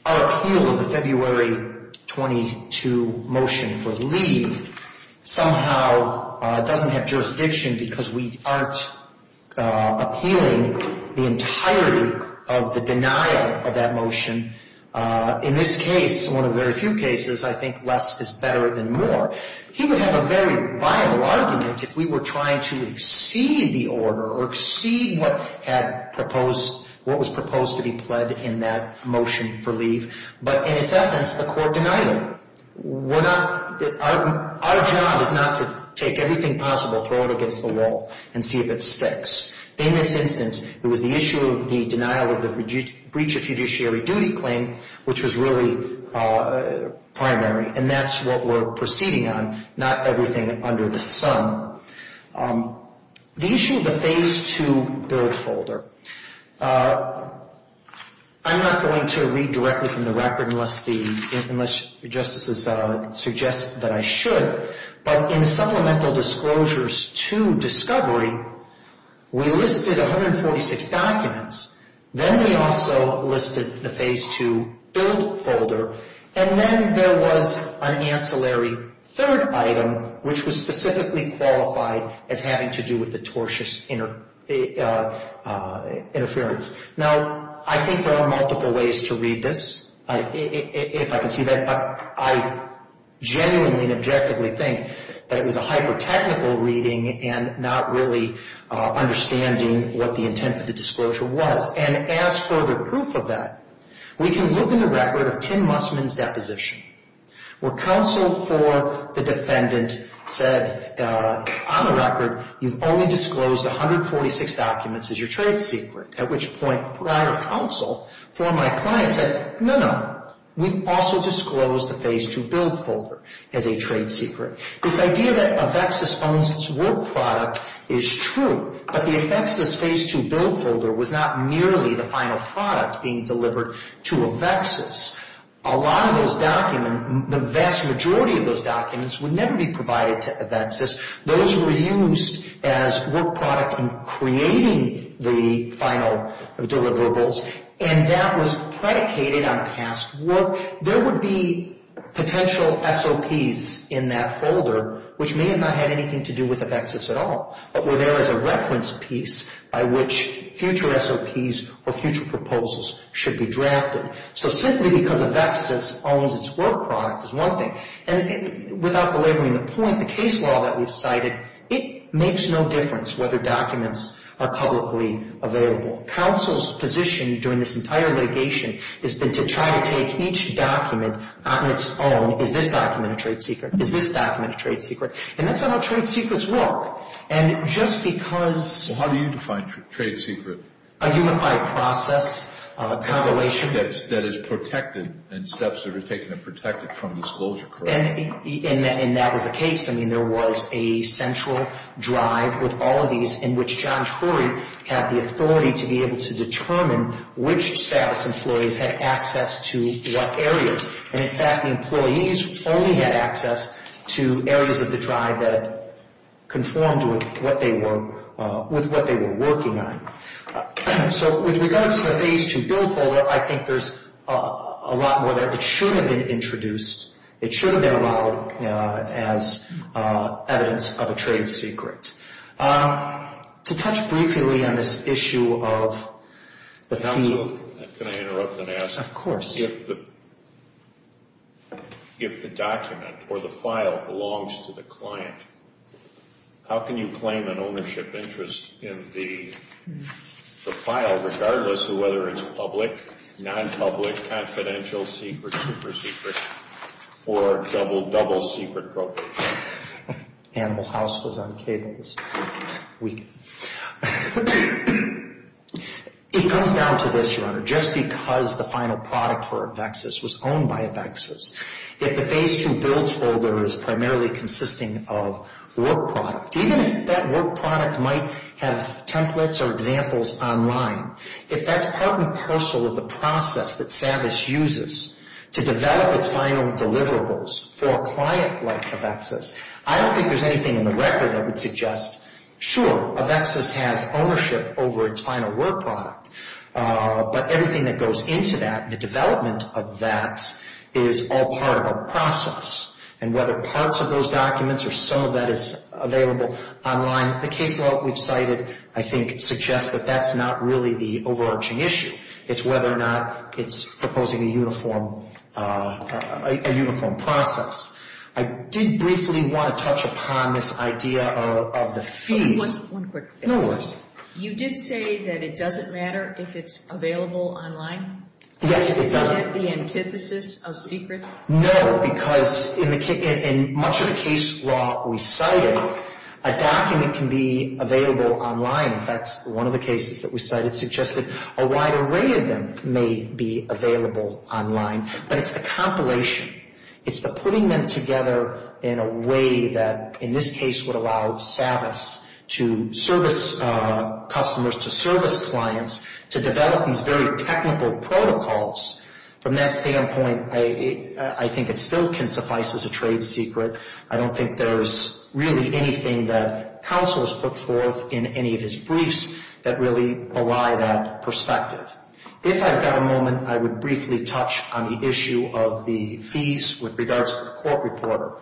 our appeal of the February 22 motion for leave somehow doesn't have jurisdiction because we aren't appealing the entirety of the denial of that motion. In this case, one of very few cases, I think less is better than more. He would have a very vital argument if we were trying to exceed the order or exceed what was proposed to be pled in that motion for leave. But in its essence, the court denied it. Our job is not to take everything possible, throw it against the wall, and see if it sticks. In this instance, it was the issue of the denial of the breach of judiciary duty claim, which was really primary. And that's what we're proceeding on, not everything under the sun. The issue of the Phase 2 billed folder, I'm not going to read directly from the record unless the justices suggest that I should. But in the supplemental disclosures to discovery, we listed 146 documents. Then we also listed the Phase 2 billed folder. And then there was an ancillary third item, which was specifically qualified as having to do with the tortious interference. Now, I think there are multiple ways to read this, if I can see that. But I genuinely and objectively think that it was a hyper-technical reading and not really understanding what the intent of the disclosure was. And as further proof of that, we can look in the record of Tim Mussman's deposition, where counsel for the defendant said, on the record, you've only disclosed 146 documents as your trade secret, at which point prior counsel for my client said, no, no. We've also disclosed the Phase 2 billed folder as a trade secret. This idea that Avexis owns its work product is true, but the Avexis Phase 2 billed folder was not merely the final product being delivered to Avexis. A lot of those documents, the vast majority of those documents, would never be provided to Avexis. Those were used as work product in creating the final deliverables, and that was predicated on past work. There would be potential SOPs in that folder, which may have not had anything to do with Avexis at all, but were there as a reference piece by which future SOPs or future proposals should be drafted. So simply because Avexis owns its work product is one thing. And without belaboring the point, the case law that we've cited, it makes no difference whether documents are publicly available. Counsel's position during this entire litigation has been to try to take each document on its own. Is this document a trade secret? Is this document a trade secret? And that's not how trade secrets work. And just because — Well, how do you define trade secret? A unified process, a convolution — That is protected in steps that are taken to protect it from disclosure, correct? And that was the case. I mean, there was a central drive with all of these in which John Tory had the authority to be able to determine which status employees had access to what areas. And, in fact, the employees only had access to areas of the drive that conformed with what they were working on. So with regards to the Phase 2 bill folder, I think there's a lot more there that should have been introduced. It should have been allowed as evidence of a trade secret. To touch briefly on this issue of the fee — Counsel, can I interrupt and ask? Of course. If the document or the file belongs to the client, how can you claim an ownership interest in the file regardless of whether it's public, non-public, confidential, secret, super-secret, or double-secret copay? Animal House was on cable this week. It comes down to this, Your Honor. Just because the final product for a VEXIS was owned by a VEXIS, if the Phase 2 bill folder is primarily consisting of work product, even if that work product might have templates or examples online, if that's part and parcel of the process that SAVVIS uses to develop its final deliverables for a client like a VEXIS, I don't think there's anything in the record that would suggest, sure, a VEXIS has ownership over its final work product, but everything that goes into that, the development of that, is all part of a process. And whether parts of those documents or some of that is available online, the case law that we've cited, I think, suggests that that's not really the overarching issue. It's whether or not it's proposing a uniform process. I did briefly want to touch upon this idea of the fees. One quick thing. No worries. You did say that it doesn't matter if it's available online? Yes, it doesn't. Is that the antithesis of secret? No, because in much of the case law we cited, a document can be available online. In fact, one of the cases that we cited suggested a wide array of them may be available online, but it's the compilation. It's the putting them together in a way that, in this case, would allow SAVVIS to service customers, to service clients, to develop these very technical protocols. From that standpoint, I think it still can suffice as a trade secret. I don't think there's really anything that counsel has put forth in any of his briefs that really belie that perspective. If I've got a moment, I would briefly touch on the issue of the fees with regards to the court reporter.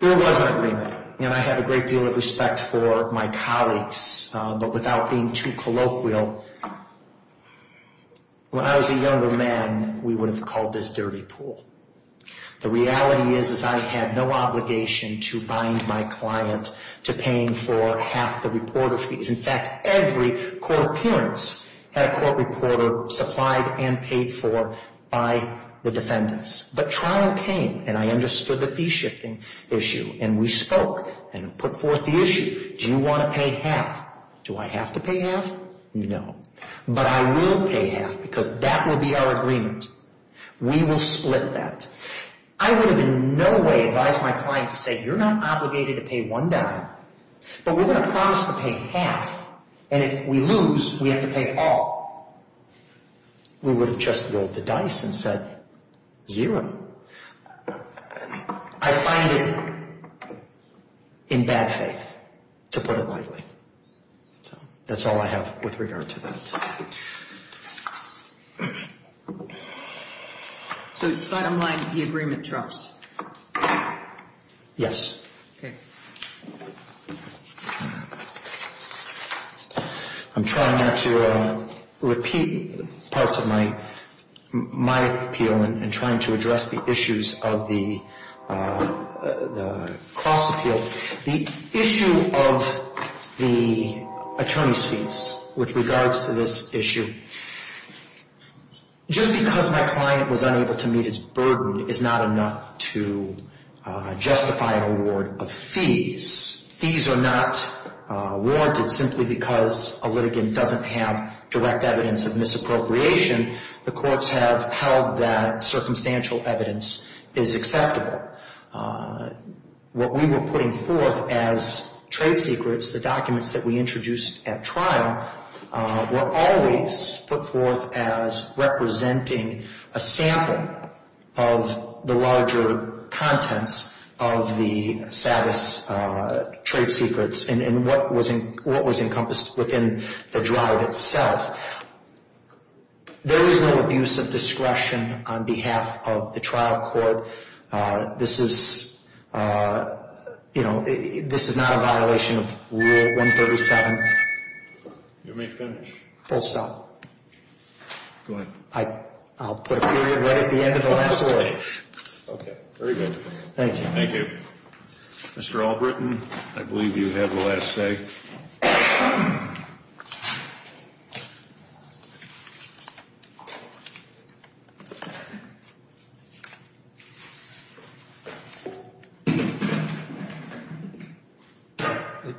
There was an agreement, and I have a great deal of respect for my colleagues, but without being too colloquial, when I was a younger man, we would have called this dirty pool. The reality is I had no obligation to bind my client to paying for half the reporter fees. In fact, every court appearance had a court reporter supplied and paid for by the defendants. But trial came, and I understood the fee shifting issue, and we spoke and put forth the issue. Do you want to pay half? Do I have to pay half? No. But I will pay half, because that will be our agreement. We will split that. I would have in no way advised my client to say, you're not obligated to pay one dime, but we're going to promise to pay half, and if we lose, we have to pay all. We would have just rolled the dice and said, zero. I find it in bad faith, to put it lightly. That's all I have with regard to that. So it's not unlike the agreement, Charles? Yes. Okay. I'm trying not to repeat parts of my appeal and trying to address the issues of the cross appeal. The issue of the attorney's fees with regards to this issue, just because my client was unable to meet his burden is not enough to justify an award of fees. Fees are not awarded simply because a litigant doesn't have direct evidence of misappropriation. The courts have held that circumstantial evidence is acceptable. What we were putting forth as trade secrets, the documents that we introduced at trial, were always put forth as representing a sample of the larger contents of the SAVIS trade secrets and what was encompassed within the drive itself. There is no abuse of discretion on behalf of the trial court. This is not a violation of Rule 137. You may finish. Full stop. Go ahead. I'll put a period right at the end of the last word. Okay. Very good. Thank you. Thank you. Mr. Albritton, I believe you have the last say.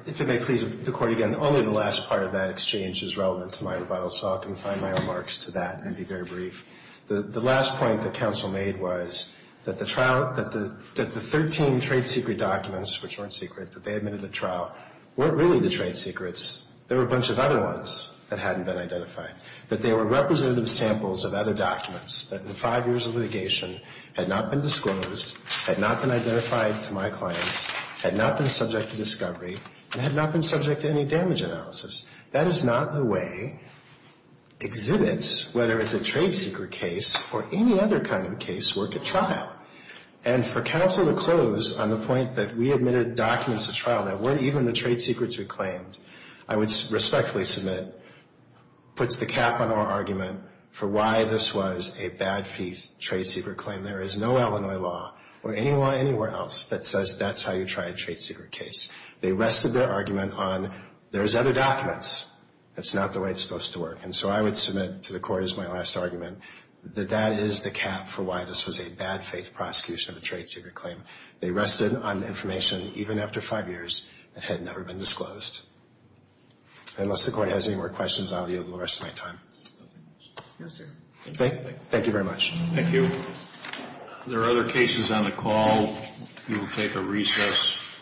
If it may please the Court again, only the last part of that exchange is relevant to my rebuttal, so I'll confine my remarks to that and be very brief. The last point that counsel made was that the trial, that the 13 trade secret documents, which weren't secret, that they admitted at trial, weren't really the trade secrets. They were a bunch of other ones that hadn't been identified, that they were representative samples of other documents that in five years of litigation had not been disclosed, had not been identified to my clients, had not been subject to discovery, and had not been subject to any damage analysis. That is not the way exhibits, whether it's a trade secret case or any other kind of case, work at trial. And for counsel to close on the point that we admitted documents at trial that weren't even the trade secrets we claimed, I would respectfully submit puts the cap on our argument for why this was a bad faith trade secret claim. There is no Illinois law or any law anywhere else that says that's how you try a trade secret case. They rested their argument on there's other documents. That's not the way it's supposed to work. And so I would submit to the Court as my last argument that that is the cap for why this was a bad faith prosecution of a trade secret claim. They rested on information even after five years that had never been disclosed. Unless the Court has any more questions, I'll be able to rest my time. Thank you very much. Thank you. If there are other cases on the call, we will take a recess.